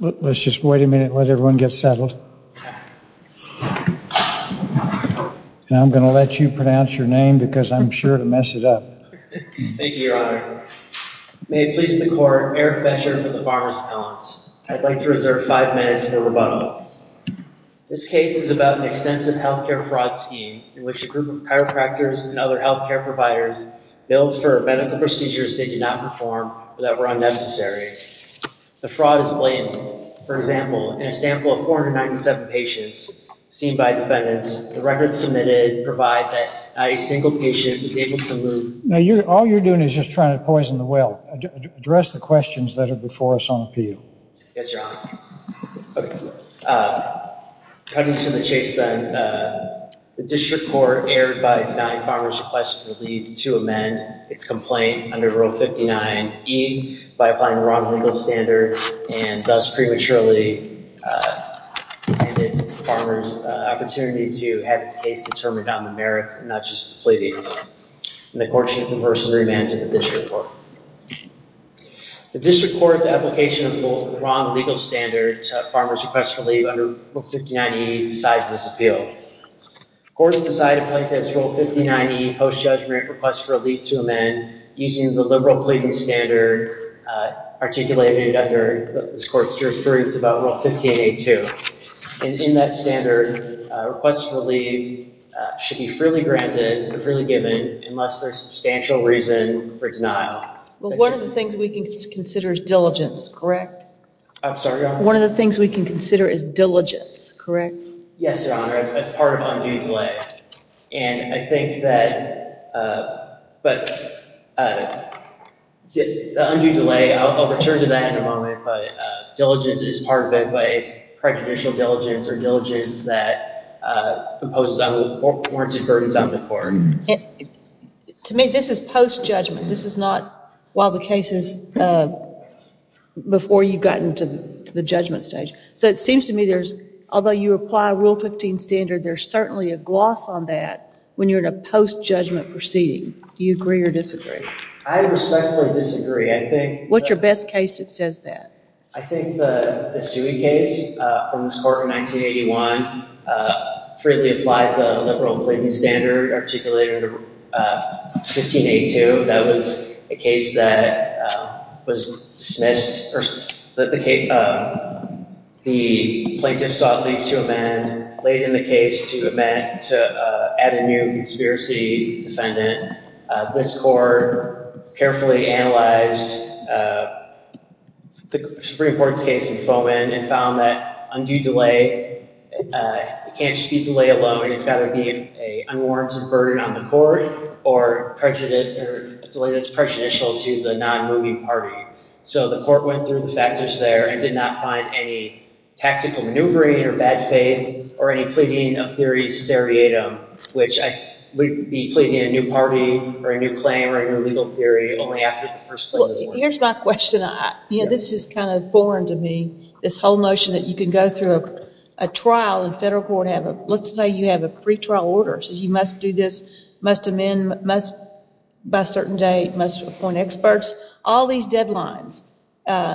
Let's just wait a minute and let everyone get settled. Now I'm going to let you pronounce your name because I'm sure to mess it up. Thank you, Your Honor. May it please the Court, Eric Fetcher for the Farmers' Appellants. I'd like to reserve five minutes for rebuttal. This case is about an extensive health care fraud scheme in which a group of chiropractors and other health care providers billed for medical procedures they did not perform or that were unnecessary. The fraud is blamed. For example, in a sample of 497 patients seen by defendants, the records submitted provide that not a single patient was able to move... Now all you're doing is just trying to poison the well. Address the questions that are before us on appeal. Yes, Your Honor. Cutting to the chase then, the District Court erred by denying Farmers' Appellants the lead to amend its complaint under Rule 59E by applying the wrong legal standard and thus prematurely handed Farmers' opportunity to have its case determined on the merits and not just the plebeians. The Court should converse and remand to the District Court. The District Court's application of the wrong legal standard to Farmers' Requests for Leave under Rule 59E decides this appeal. The Court has decided to place this Rule 59E Post Judge Merit Request for Leave to amend using the liberal plebeian standard articulated under this Court's jurisprudence about Rule 15A2. In that standard, requests for leave should be freely granted or freely given unless there is substantial reason for denial. One of the things we can consider is diligence, correct? I'm sorry, Your Honor? One of the things we can consider is diligence, correct? Yes, Your Honor, as part of undue delay. And I think that... The undue delay, I'll return to that in a moment, but diligence is part of it, but it's prejudicial diligence or diligence that imposes unwarranted burdens on the court. To me, this is post-judgment. This is not while the case is... before you've gotten to the judgment stage. So it seems to me there's... although you apply Rule 15 standard, there's certainly a gloss on that when you're in a post-judgment proceeding. Do you agree or disagree? I respectfully disagree. I think... What's your best case that says that? I think the Sui case from this Court in 1981 freely applied the liberal plebeian standard articulated under 15A2. That was a case that was dismissed... The plaintiff sought leave to amend, laid in the case to amend, to add a new conspiracy defendant. This Court carefully analyzed the Supreme Court's case in Fomin and found that undue delay... it can't just be delay alone. It's got to be an unwarranted burden on the court or a delay that's prejudicial to the non-moving party. So the Court went through the factors there and did not find any tactical maneuvering or bad faith or any pleading of theory seriatim, which would be pleading a new party or a new claim or a new legal theory only after the first... Here's my question. This is kind of foreign to me, this whole notion that you can go through a trial in federal court and have a... let's say you have a pretrial order, so you must do this, must amend, must... by a certain date, must appoint experts, all these deadlines.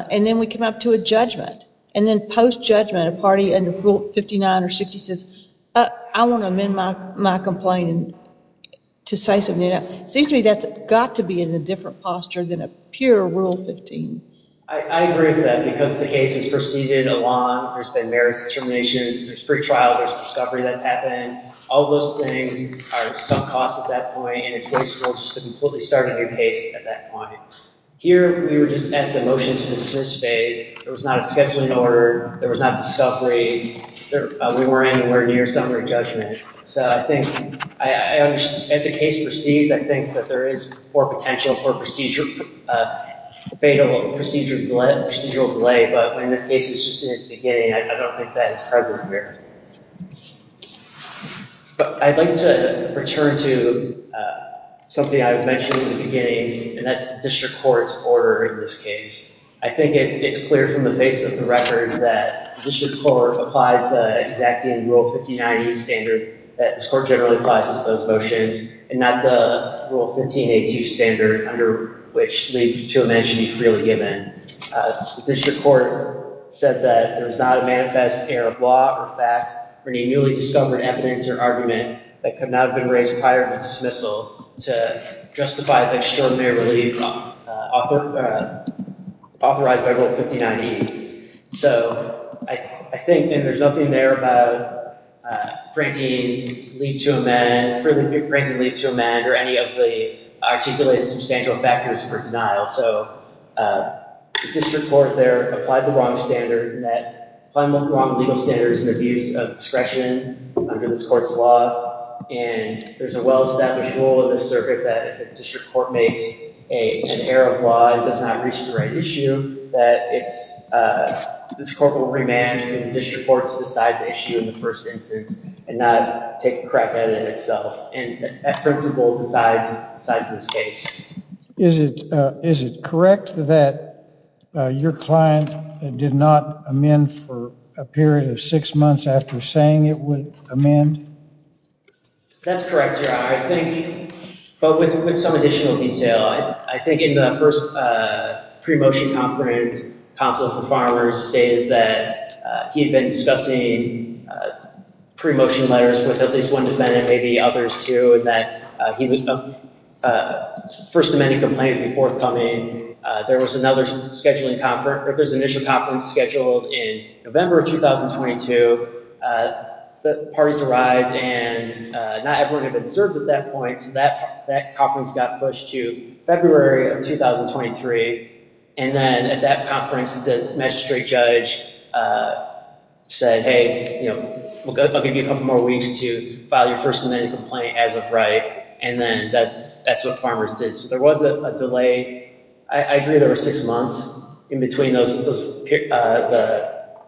And then we come up to a judgment. And then post-judgment, a party under Rule 59 or 60 says, I want to amend my complaint to say something else. It seems to me that's got to be in a different posture than a pure Rule 15. I agree with that because the case has proceeded along, there's been various determinations, there's pretrial, there's discovery that's happened. All those things are sub-costs at that point and it's wasteful just to completely start a new case at that point. Here, we were just at the motion to dismiss phase, there was not a scheduling order, there was not discovery, we weren't anywhere near summary judgment. So I think, as the case proceeds, I think that there is more potential for procedural, fatal procedural delay, but when this case is just in its beginning, I don't think that is present here. But I'd like to return to something I mentioned in the beginning and that's the District Court's order in this case. I think it's clear from the base of the record that the District Court applied the exacting Rule 1590 standard that this Court generally applies to those motions and not the Rule 1582 standard under which leave to amend should be freely given. The District Court said that there is not a manifest error of law or fact for any newly discovered evidence or argument that could not have been raised prior to dismissal to justify the extraordinary leave authorized by Rule 1590. So I think, and there's nothing there about granting leave to amend, further granting leave to amend or any of the articulated substantial factors for denial. So the District Court there applied the wrong standard and that applied the wrong legal standards and abuse of discretion under this Court's law and there's a well-established rule in this circuit that if the District Court makes an error of law and does not reach the right issue that this Court will re-manage and the District Court will decide the issue in the first instance and not take a crack at it itself. And that principle decides this case. Is it correct that your client did not amend for a period of six months after saying it would amend? That's correct, Your Honor. I think, but with some additional detail, I think in the first pre-motion conference, Counsel for Farmers stated that he had been discussing pre-motion letters with at least one defendant, maybe others too, and that he would, first amending complaint would be forthcoming. There was another scheduling conference, or if there's an initial conference scheduled in November of 2022, the parties arrived and not everyone had been served at that point, so that conference got pushed to February of 2023 and then at that conference, the magistrate judge said, hey, I'll give you a couple more weeks to file your first amendment complaint as of right and then that's what Farmers did. So there was a delay. I agree there were six months in between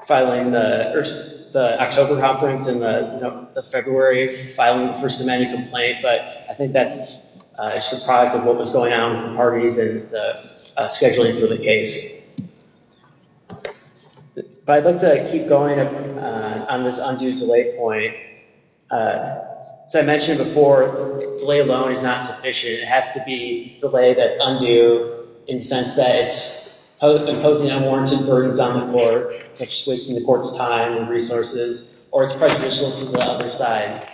filing the October conference and the February filing the first amendment complaint, but I think that's just a product of what was going on with the parties and the scheduling for the case. But I'd like to keep going on this undue delay point. As I mentioned before, delay alone is not sufficient. It has to be delay that's undue in the sense that it's imposing unwarranted burdens on the court, it's wasting the court's time and resources, or it's prejudicial to the other side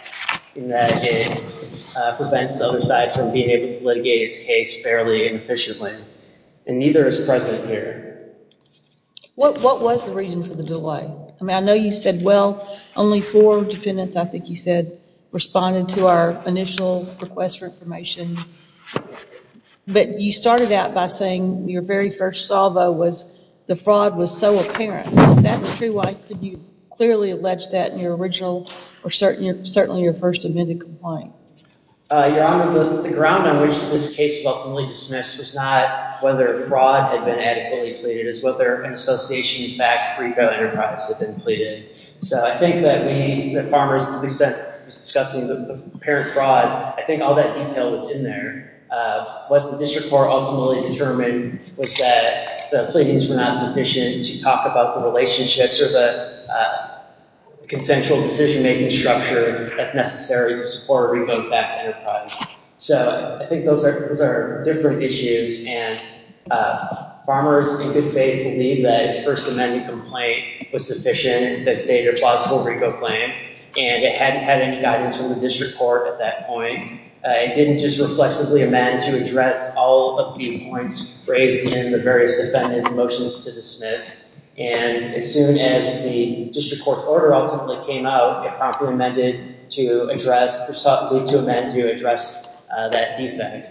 in that it prevents the other side from being able to litigate its case fairly and efficiently and neither is present here. What was the reason for the delay? I mean, I know you said, well, only four defendants, I think you said, responded to our initial request for information, but you started out by saying your very first salvo was the fraud was so apparent. If that's true, why couldn't you clearly allege that in your original or certainly your first amendment complaint? Your Honor, the ground on which this case was ultimately dismissed was not whether fraud had been adequately pleaded, it was whether an association, in fact, for eco-enterprise had been pleaded. So I think that we, the farmers, to the extent it was discussing the apparent fraud, I think all that detail was in there. What the district court ultimately determined was that the pleadings were not sufficient to talk about the relationships or the consensual decision-making structure as necessary to support a reco-backed enterprise. So I think those are different issues and farmers, in good faith, believe that its first amendment complaint was sufficient and stated a plausible reco-claim and it hadn't had any guidance from the district court at that point. It didn't just reflexively amend to address all of the points raised in the various defendants' motions to dismiss and as soon as the district court's order ultimately came out, it promptly amended to address, or sought to amend to address that defect.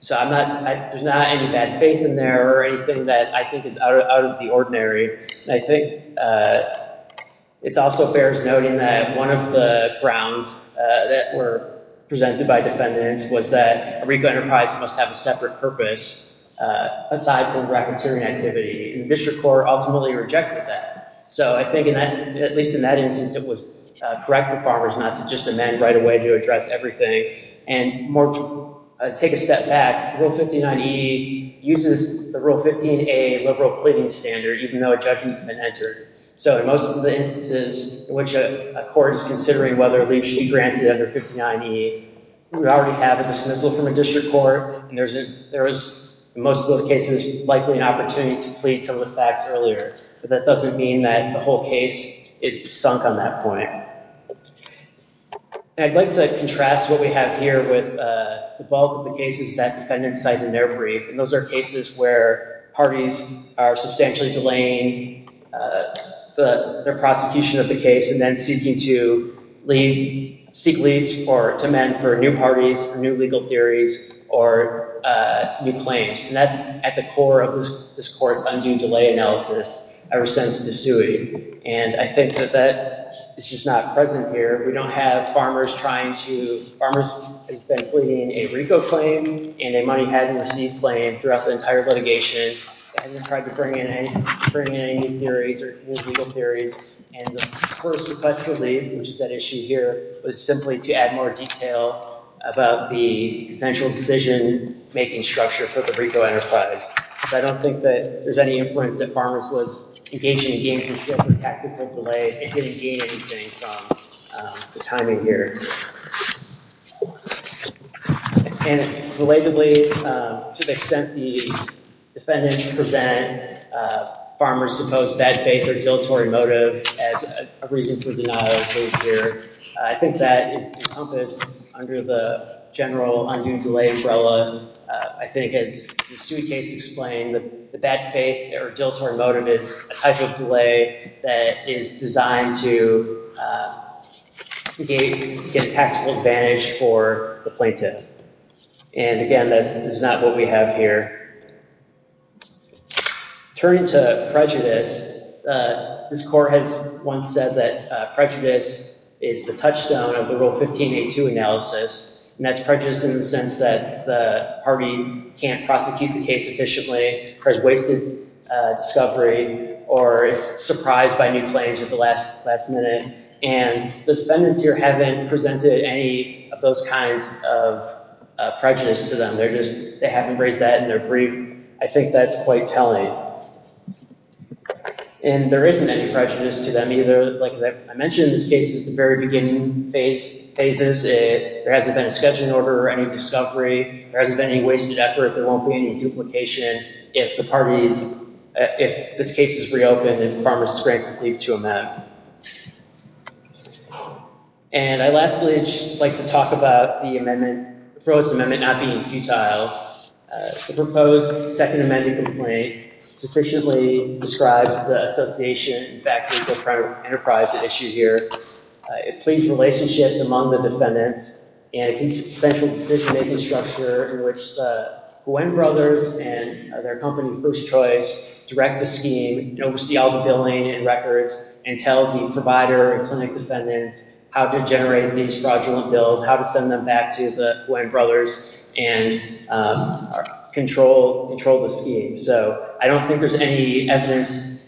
So there's not any bad faith in there or anything that I think is out of the ordinary and I think it also bears noting that one of the grounds that were presented by defendants was that a reco-enterprise must have a separate purpose aside from racketeering activity and the district court ultimately rejected that. So I think at least in that instance it was correct for farmers not to just amend right away to address everything and take a step back. Rule 59E uses the Rule 15A liberal pleading standard even though a judgment's been entered. So in most of the instances in which a court is considering whether a leave should be granted under 59E, we already have a dismissal from a district court and there is, in most of those cases, likely an opportunity to plead some of the facts earlier. But that doesn't mean that the whole case is sunk on that point. And I'd like to contrast what we have here with the bulk of the cases that defendants cite in their brief and those are cases where parties are substantially delaying the prosecution of the case and then seeking to seek leave to amend for new parties, new legal theories, or new claims. And that's at the core of this court's undue delay analysis ever since the sui. And I think that that is just not present here. We don't have farmers trying to... Farmers have been pleading a RICO claim and a money hadn't received claim throughout the entire litigation. They haven't tried to bring in any new theories or new legal theories. And the first request to leave, which is at issue here, was simply to add more detail about the essential decision-making structure for the RICO enterprise. So I don't think that there's any influence that farmers was engaging in gainful tactical delay and didn't gain anything from the timing here. And relatedly, to the extent that the defendants present farmers' supposed bad faith or dilatory motive as a reason for the not okay here, I think that is encompassed under the general undue delay umbrella. I think, as the sui case explained, the bad faith or dilatory motive is a type of delay that is designed to get a tactical advantage for the plaintiff. And again, this is not what we have here. Turning to prejudice, this court has once said that prejudice is the touchstone of the Rule 1582 analysis. And that's prejudice in the sense that Harvey can't prosecute the case efficiently, has wasted discovery, or is surprised by new claims at the last minute. And the defendants here haven't presented any of those kinds of prejudice to them. They haven't raised that in their brief. I think that's quite telling. And there isn't any prejudice to them either. Like I mentioned in this case, it's the very beginning phases. There hasn't been a scheduling order or any discovery. There hasn't been any wasted effort. There won't be any duplication if this case is reopened and farmers is granted leave to amend. And I'd lastly just like to talk about the proposed amendment not being futile. The proposed Second Amendment complaint sufficiently describes the association and the fact that the enterprise at issue here includes relationships among the defendants and a consensual decision-making structure in which the Gwen brothers and their company, First Choice, direct the scheme, oversee all the billing and records, and tell the provider and clinic defendants how to generate these fraudulent bills, how to send them back to the Gwen brothers and control the scheme. So I don't think there's any evidence.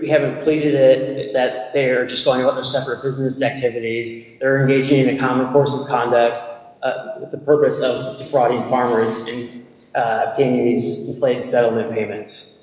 We haven't pleaded it, that they're just going about their separate business activities. They're engaging in a common course of conduct with the purpose of defrauding farmers and obtaining these deflated settlement payments.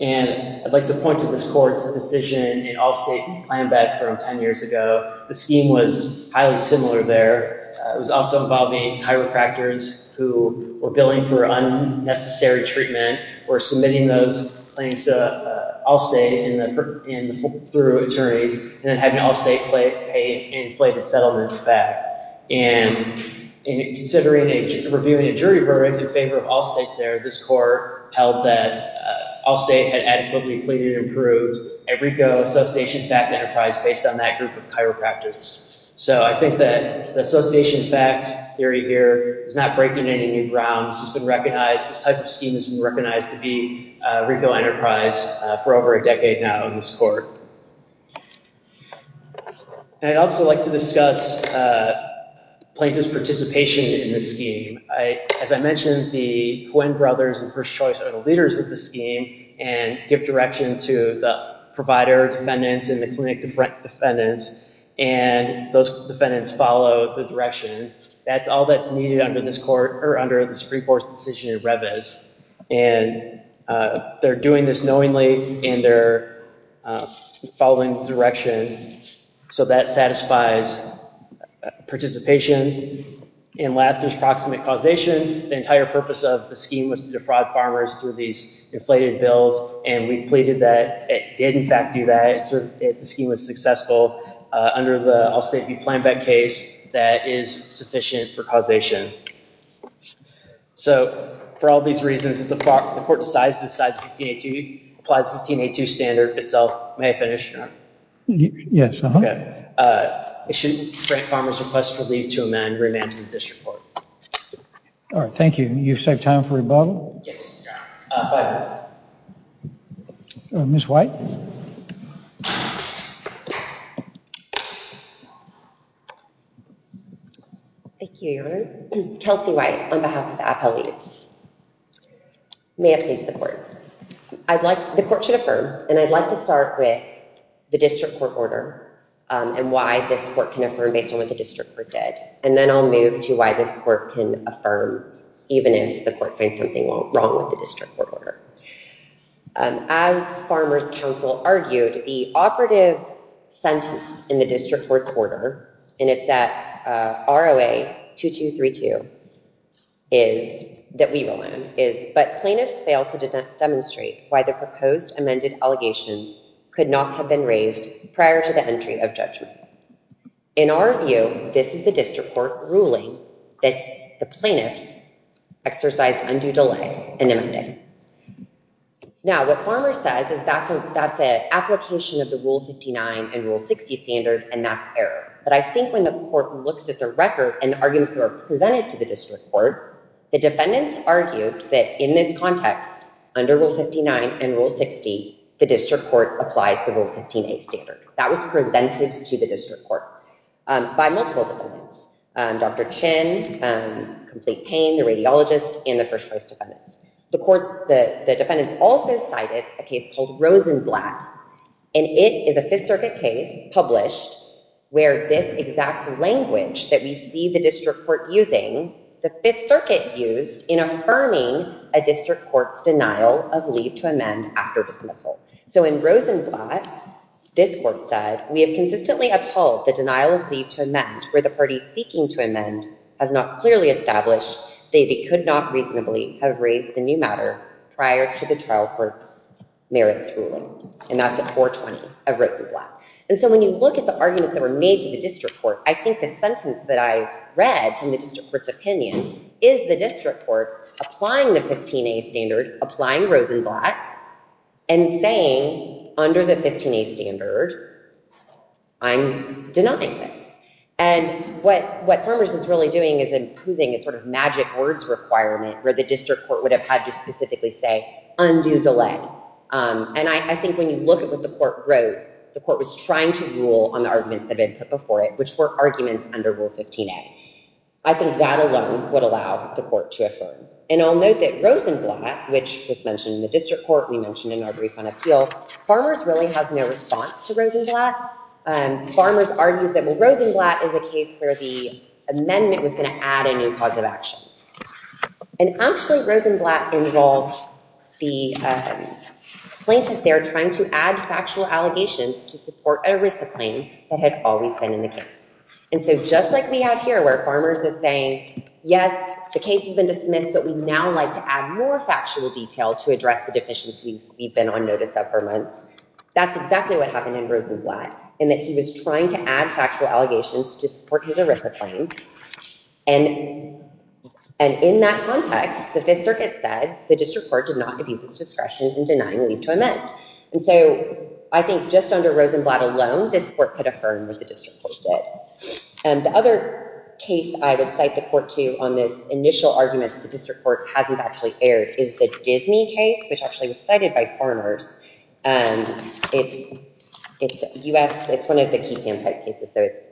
And I'd like to point to this court's decision in Allstate playing back from 10 years ago. The scheme was highly similar there. It was also involving chiropractors who were billing for unnecessary treatment or submitting those claims to Allstate and through attorneys and then having Allstate pay inflated settlements back. And considering reviewing a jury verdict in favor of Allstate there, this court held that Allstate had adequately pleaded and proved a RICO Association FACT enterprise based on that group of chiropractors. So I think that the Association FACT theory here is not breaking any new grounds. It's been recognized. This type of scheme has been recognized to be a RICO enterprise for over a decade now in this court. And I'd also like to discuss plaintiff's participation in this scheme. As I mentioned, the Gwen brothers and First Choice are the leaders of the scheme and give direction to the provider defendants and the clinic defendants. And those defendants follow the direction. That's all that's needed under this free force decision in Revis. And they're doing this knowingly and they're following direction. So that satisfies participation. And last is proximate causation. The entire purpose of the scheme was to defraud farmers through these inflated bills. And we pleaded that it did, in fact, do that. The scheme was successful. Under the Allstate v. Planbeck case, that is sufficient for causation. So for all these reasons, if the court decides to decide 1582, apply the 1582 standard itself, may I finish? Yes. It should grant farmers a request for leave to amend remand to the district court. All right, thank you. You've saved time for rebuttal? Yes. Five minutes. Ms. White? Thank you, Your Honor. Kelsey White on behalf of the appellees. May it please the court. The court should affirm, and I'd like to start with the district court order and why this court can affirm based on whether the district court did. And then I'll move to why this court can affirm even if the court finds something wrong with the district court order. As Farmers Council argued, the operative sentence in the district court's order, and it's at ROA 2232, that we will learn, is, but plaintiffs failed to demonstrate why the proposed amended allegations could not have been raised prior to the entry of judgment. In our view, this is the district court ruling that the plaintiffs exercised undue delay in amending. Now, what Farmers says is that's an application of the Rule 59 and Rule 60 standard, and that's error. But I think when the court looks at the record and the arguments that are presented to the district court, the defendants argued that in this context, under Rule 59 and Rule 60, the district court applies the Rule 15a standard. That was presented to the district court by multiple defendants, Dr. Chin, Complete Pain, the radiologist, and the first-choice defendants. The defendants also cited a case called Rosenblatt, and it is a Fifth Circuit case published where this exact language that we see the district court using, the Fifth Circuit used in affirming a district court's denial of leave to amend after dismissal. So in Rosenblatt, this court said, we have consistently upheld the denial of leave to amend where the party seeking to amend has not clearly established they could not reasonably have raised a new matter prior to the trial court's merits ruling. And that's at 420 of Rosenblatt. And so when you look at the arguments that were made to the district court, I think the sentence that I've read from the district court's opinion is the district court applying the 15a standard, applying Rosenblatt, and saying under the 15a standard, I'm denying this. And what Farmers is really doing is imposing a sort of magic words requirement where the district court would have had to specifically say, undo delay. And I think when you look at what the court wrote, the court was trying to rule on the arguments that had been put before it, which were arguments under Rule 15a. I think that alone would allow the court to affirm. And I'll note that Rosenblatt, which was mentioned in the district court, we mentioned in our brief on appeal, Farmers really has no response to Rosenblatt. Farmers argues that Rosenblatt is a case where the amendment was going to add a new cause of action. And actually Rosenblatt involved the plaintiff there trying to add factual allegations to support a RISA claim that had always been in the case. And so just like we have here, where Farmers is saying, yes, the case has been dismissed, but we now like to add more factual detail to address the deficiencies we've been on notice of for months. That's exactly what happened in Rosenblatt in that he was trying to add factual allegations to support his RISA claim. And in that context, the Fifth Circuit said, the district court did not abuse its discretion in denying leave to amend. And so I think just under Rosenblatt alone, this court could affirm what the district court did. And the other case I would cite the court to on this initial argument that the district court hasn't actually aired is the Disney case, which actually was cited by Farmers. It's one of the QTAM type cases, so it's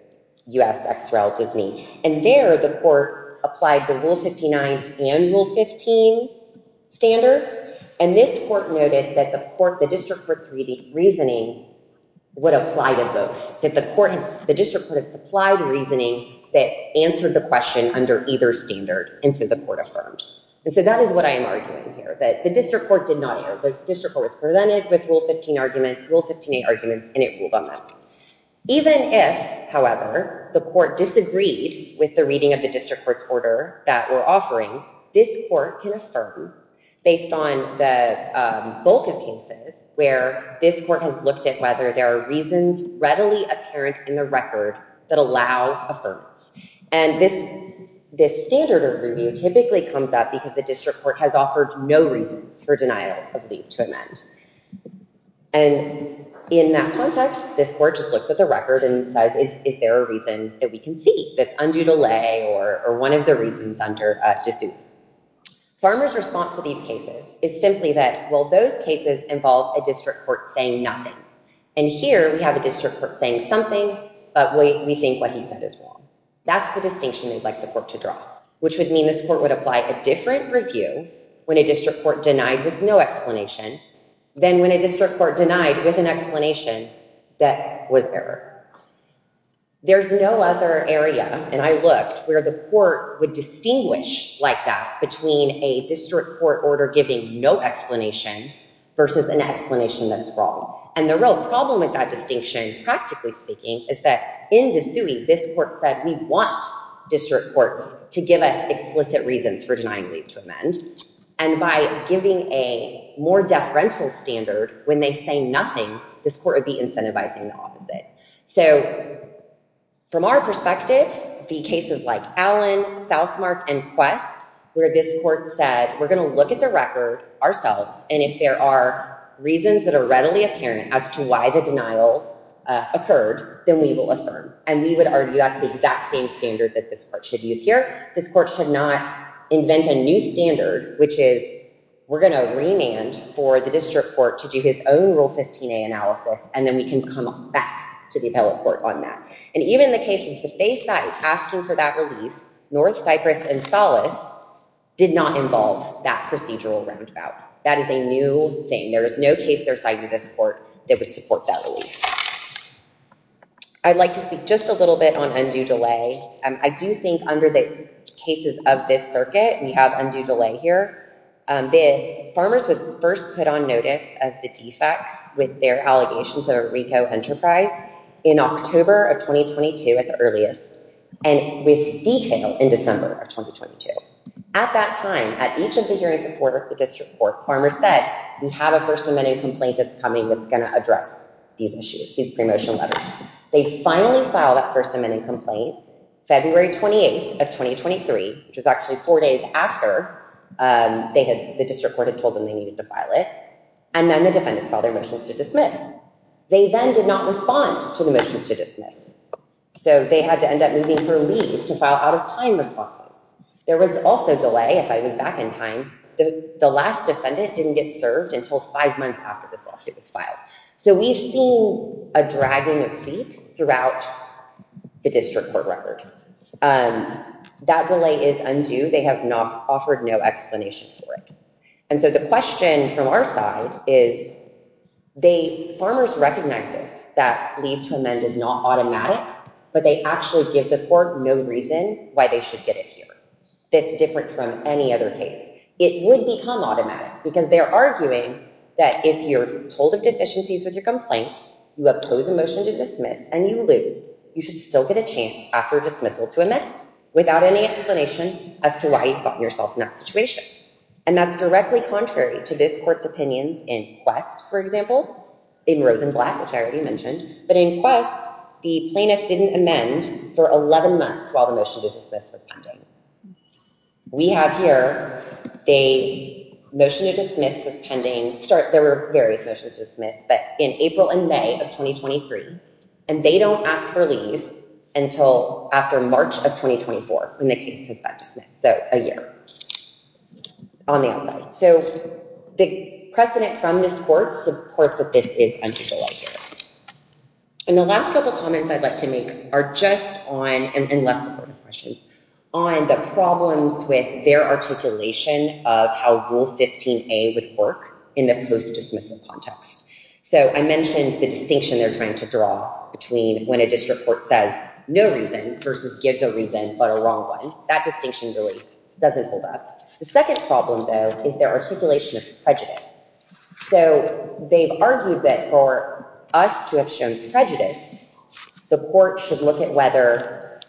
U.S., XREL, Disney. And there the court applied the Rule 59 and Rule 15 standards. And this court noted that the court, the district court's reasoning would apply to both. The district court applied reasoning that answered the question under either standard, and so the court affirmed. And so that is what I am arguing here, that the district court did not air. The district court was presented with Rule 15 arguments, Rule 15A arguments, and it ruled on that. Even if, however, the court disagreed with the reading of the district court's order that we're offering, this court can affirm, based on the bulk of cases where this court has looked at whether there are reasons readily apparent in the record that allow affirmance. And this standard of review typically comes up because the district court has offered no reasons for denial of leave to amend. And in that context, this court just looks at the record and says, is there a reason that we can see that's undue delay or one of the reasons to sue? Farmers' response to these cases is simply that, well, those cases involve a district court saying nothing. And here we have a district court saying something, but we think what he said is wrong. That's the distinction we'd like the court to draw, which would mean this court would apply a different review when a district court denied with no explanation than when a district court denied with an explanation that was error. There's no other area, and I looked, where the court would distinguish like that between a district court order giving no explanation versus an explanation that's wrong. And the real problem with that distinction, practically speaking, is that in Desui, this court said we want district courts to give us explicit reasons for denying leave to amend. And by giving a more deferential standard when they say nothing, this court would be incentivizing the opposite. So from our perspective, the cases like Allen, Southmark, and Quest, where this court said, we're going to look at the record ourselves, and if there are reasons that are readily apparent as to why the denial occurred, then we will affirm. And we would argue that's the exact same standard that this court should use here. This court should not invent a new standard, which is we're going to remand for the district court to do his own Rule 15a analysis, and then we can come back to the appellate court on that. And even the case with the Fayside asking for that relief, North Cyprus and Solace did not involve that procedural roundabout. That is a new thing. There is no case they're citing this court that would support that relief. I'd like to speak just a little bit on undue delay. I do think under the cases of this circuit, we have undue delay here. The farmers was first put on notice of the defects with their allegations of a RICO enterprise in October of 2022 at the earliest, and with detail in December of 2022. At that time, at each of the hearings in court with the district court, farmers said, we have a First Amendment complaint that's coming that's going to address these issues, these pre-motion letters. They finally filed that First Amendment complaint February 28th of 2023, which was actually four days after the district court had told them they needed to file it, and then the defendants filed their motions to dismiss. They then did not respond to the motions to dismiss, so they had to end up moving for leave to file out-of-time responses. There was also delay, if I go back in time, the last defendant didn't get served until five months after this lawsuit was filed. So we've seen a dragging of feet throughout the district court record. That delay is undue. They have offered no explanation for it. And so the question from our side is, farmers recognize this, that leave to amend is not automatic, but they actually give the court no reason why they should get it here. It's different from any other case. It would become automatic, because they're arguing that if you're told of deficiencies with your complaint, you oppose a motion to dismiss, and you lose, you should still get a chance after dismissal to amend without any explanation as to why you've gotten yourself in that situation. And that's directly contrary to this court's opinions in Quest, for example, in Rose and Black, which I already mentioned, but in Quest, the plaintiff didn't amend for 11 months while the motion to dismiss was pending. We have here, the motion to dismiss was pending, there were various motions to dismiss, but in April and May of 2023, and they don't ask for leave until after March of 2024 when the case has been dismissed, so a year on the outside. So the precedent from this court supports that this is unfeasible right here. And the last couple of comments I'd like to make are just on, and less important questions, on the problems with their articulation of how Rule 15a would work in the post-dismissal context. So I mentioned the distinction they're trying to draw between when a district court says no reason versus gives a reason but a wrong one, that distinction really doesn't hold up. The second problem, though, is their articulation of prejudice. So they've argued that for us to have shown prejudice, the court should look at whether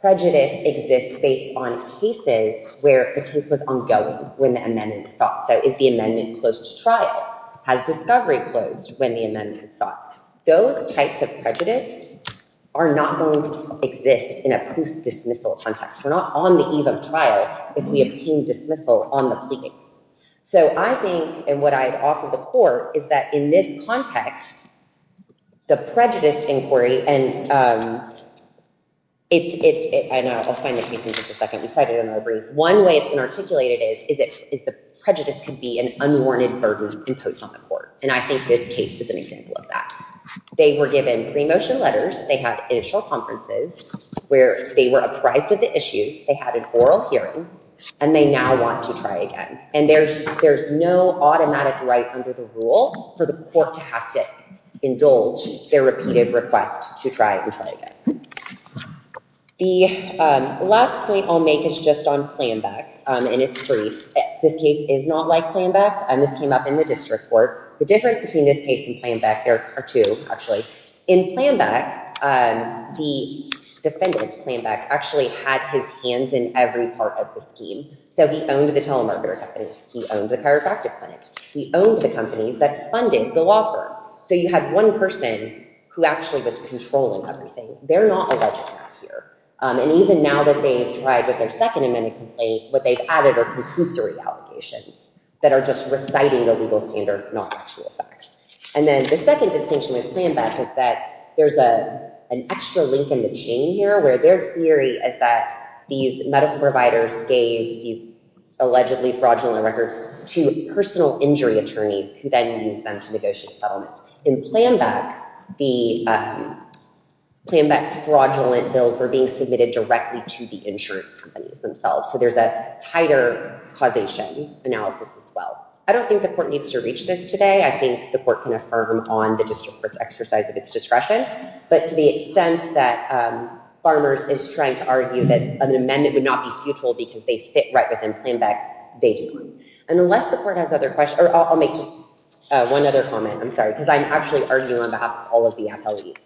prejudice exists based on cases where the case was ongoing when the amendment was sought. So is the amendment closed to trial? Has discovery closed when the amendment was sought? Those types of prejudice are not going to exist in a post-dismissal context. We're not on the eve of trial if we obtain dismissal on the plea case. So I think, and what I'd offer the court, is that in this context, the prejudice inquiry, and I'll find the case in just a second, we cited it in our brief, one way it's been articulated is that prejudice can be an unwarranted burden imposed on the court, and I think this case is an example of that. They were given pre-motion letters, they had initial conferences where they were apprised of the issues, they had an oral hearing, and they now want to try again. And there's no automatic right under the rule for the court to have to indulge their repeated request to try and try again. The last point I'll make is just on Planbeck, and it's brief. This case is not like Planbeck, and this came up in the district court. The difference between this case and Planbeck, there are two, actually. In Planbeck, the defendant, Planbeck, actually had his hands in every part of the scheme. So he owned the telemarketer company, he owned the chiropractic clinic, he owned the companies that funded the law firm. So you had one person who actually was controlling everything. They're not alleged here. And even now that they've tried with their second amendment complaint, what they've added are compulsory allegations that are just reciting the legal standard, not actual facts. And then the second distinction with Planbeck is that there's an extra link in the chain here where their theory is that these medical providers gave these allegedly fraudulent records to personal injury attorneys who then used them to negotiate settlements. In Planbeck, Planbeck's fraudulent bills were being submitted directly to the insurance companies themselves. So there's a tighter causation analysis as well. I don't think the court needs to reach this today. I think the court can affirm on the district court's exercise of its discretion. But to the extent that Farmers is trying to argue that an amendment would not be futile because they fit right within Planbeck, they do. And unless the court has other questions, or I'll make just one other comment. I'm sorry, because I'm actually arguing on behalf of all of the appellees.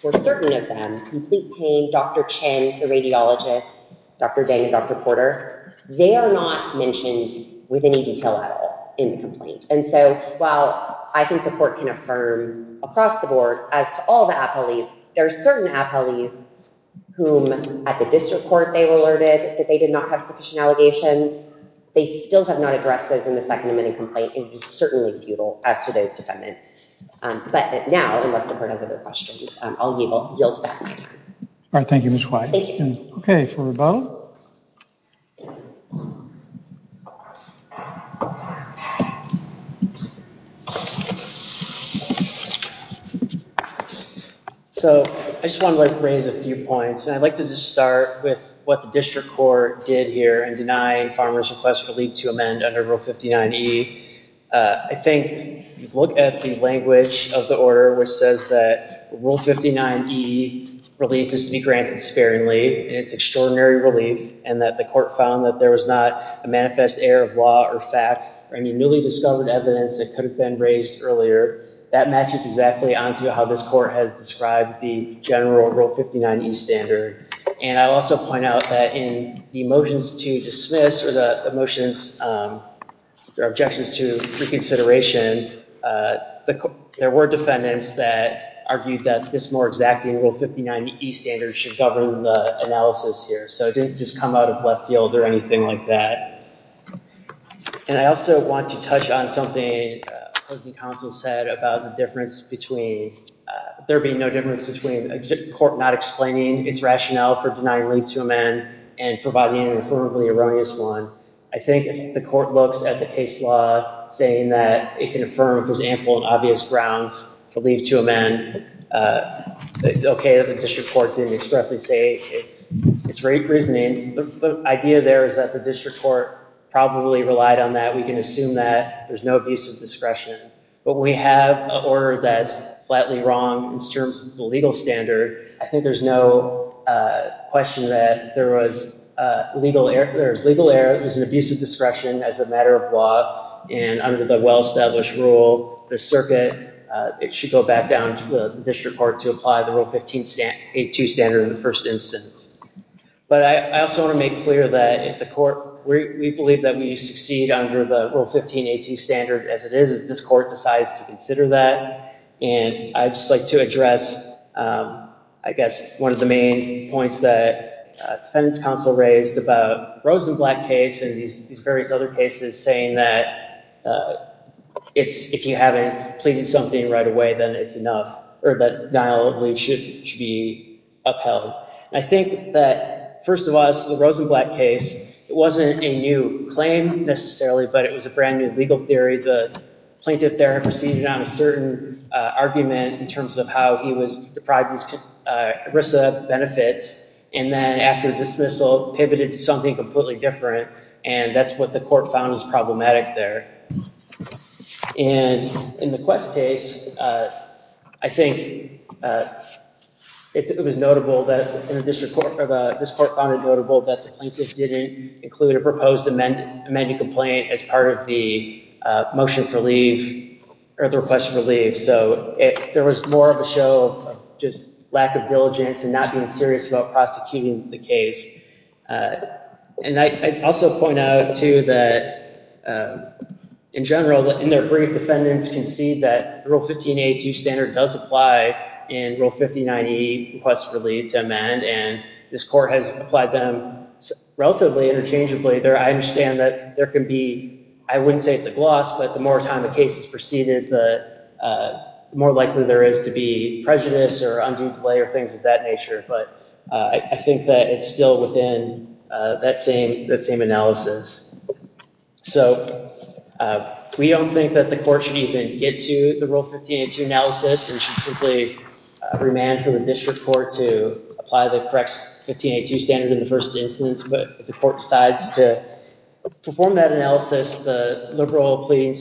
For certain of them, complete pain, Dr. Chen, the radiologist, Dr. Dang, Dr. Porter, they are not mentioned with any detail at all in the complaint. And so while I think the court can affirm across the board, as to all the appellees, there are certain appellees whom at the district court they were alerted that they did not have sufficient allegations. They still have not addressed those in the second amendment complaint and it is certainly futile as to those defendants. But now, unless the court has other questions, I'll yield back my time. All right, thank you, Ms. White. Thank you. Okay, for Ravel. Ravel. So I just wanted to raise a few points. And I'd like to just start with what the district court did here in denying farmers request relief to amend under rule 59E. I think, look at the language of the order, which says that rule 59E relief is to be granted sparingly. It's extraordinary relief and that the court found that there was not a manifest error of law or fact or any newly discovered evidence that could have been raised earlier. That matches exactly onto how this court has described the general rule 59E standard. And I'll also point out that in the motions to dismiss or the motions, their objections to reconsideration, there were defendants that argued that this more exacting rule 59E standard should govern the analysis here. So it didn't just come out of left field or anything like that. And I also want to touch on something opposing counsel said about the difference between, there being no difference between a court not explaining its rationale for denying relief to amend and providing an affirmably erroneous one. I think if the court looks at the case law saying that it can affirm if there's ample and obvious grounds to leave to amend, it's okay that the district court didn't expressly say it's rape reasoning. The idea there is that the district court probably relied on that. We can assume that there's no abuse of discretion, but we have a order that's flatly wrong in terms of the legal standard. I think there's no question that there was legal error. It was an abuse of discretion as a matter of law and under the well-established rule, the circuit, it should go back down to the district court to apply the Rule 15A2 standard in the first instance. But I also want to make clear that if the court, we believe that we succeed under the Rule 15A2 standard as it is if this court decides to consider that. And I'd just like to address, I guess, one of the main points that defendant's counsel raised about Rosenblatt case and these various other cases saying that if you haven't pleaded something right away, then it's enough, or that not only should it be upheld. I think that, first of all, the Rosenblatt case, it wasn't a new claim necessarily, but it was a brand new legal theory. The plaintiff there had proceeded on a certain argument in terms of how he was deprived of his ERISA benefits and then after dismissal, pivoted to something completely different and that's what the court found was problematic there. And in the Quest case, I think it was notable that this court found it notable that the plaintiff didn't include a proposed amended complaint as part of the motion for leave or the request for leave. So there was more of a show of just lack of diligence and not being serious about prosecuting the case. And I'd also point out too that in general, in their brief, defendants can see that Rule 1582 standard does apply in Rule 5090, request for leave to amend, and this court has applied them relatively interchangeably. I understand that there can be, I wouldn't say it's a gloss, but the more time the case is preceded, the more likely there is to be prejudice or undue delay or things of that nature, but I think that it's still within that same analysis. So we don't think that the court should even get to the Rule 1582 analysis and should simply remand for the district court to apply the correct 1582 standard in the first instance, but if the court decides to perform that analysis, the liberal pleading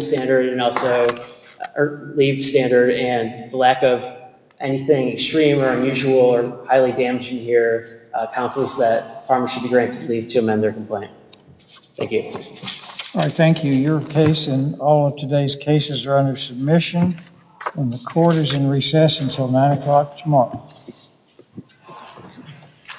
standard and also leave standard and the lack of anything extreme or unusual or highly damaging here counsels that farmers should be granted leave to amend their complaint. Thank you. All right, thank you. Your case and all of today's cases are under submission and the court is in recess until 9 o'clock tomorrow.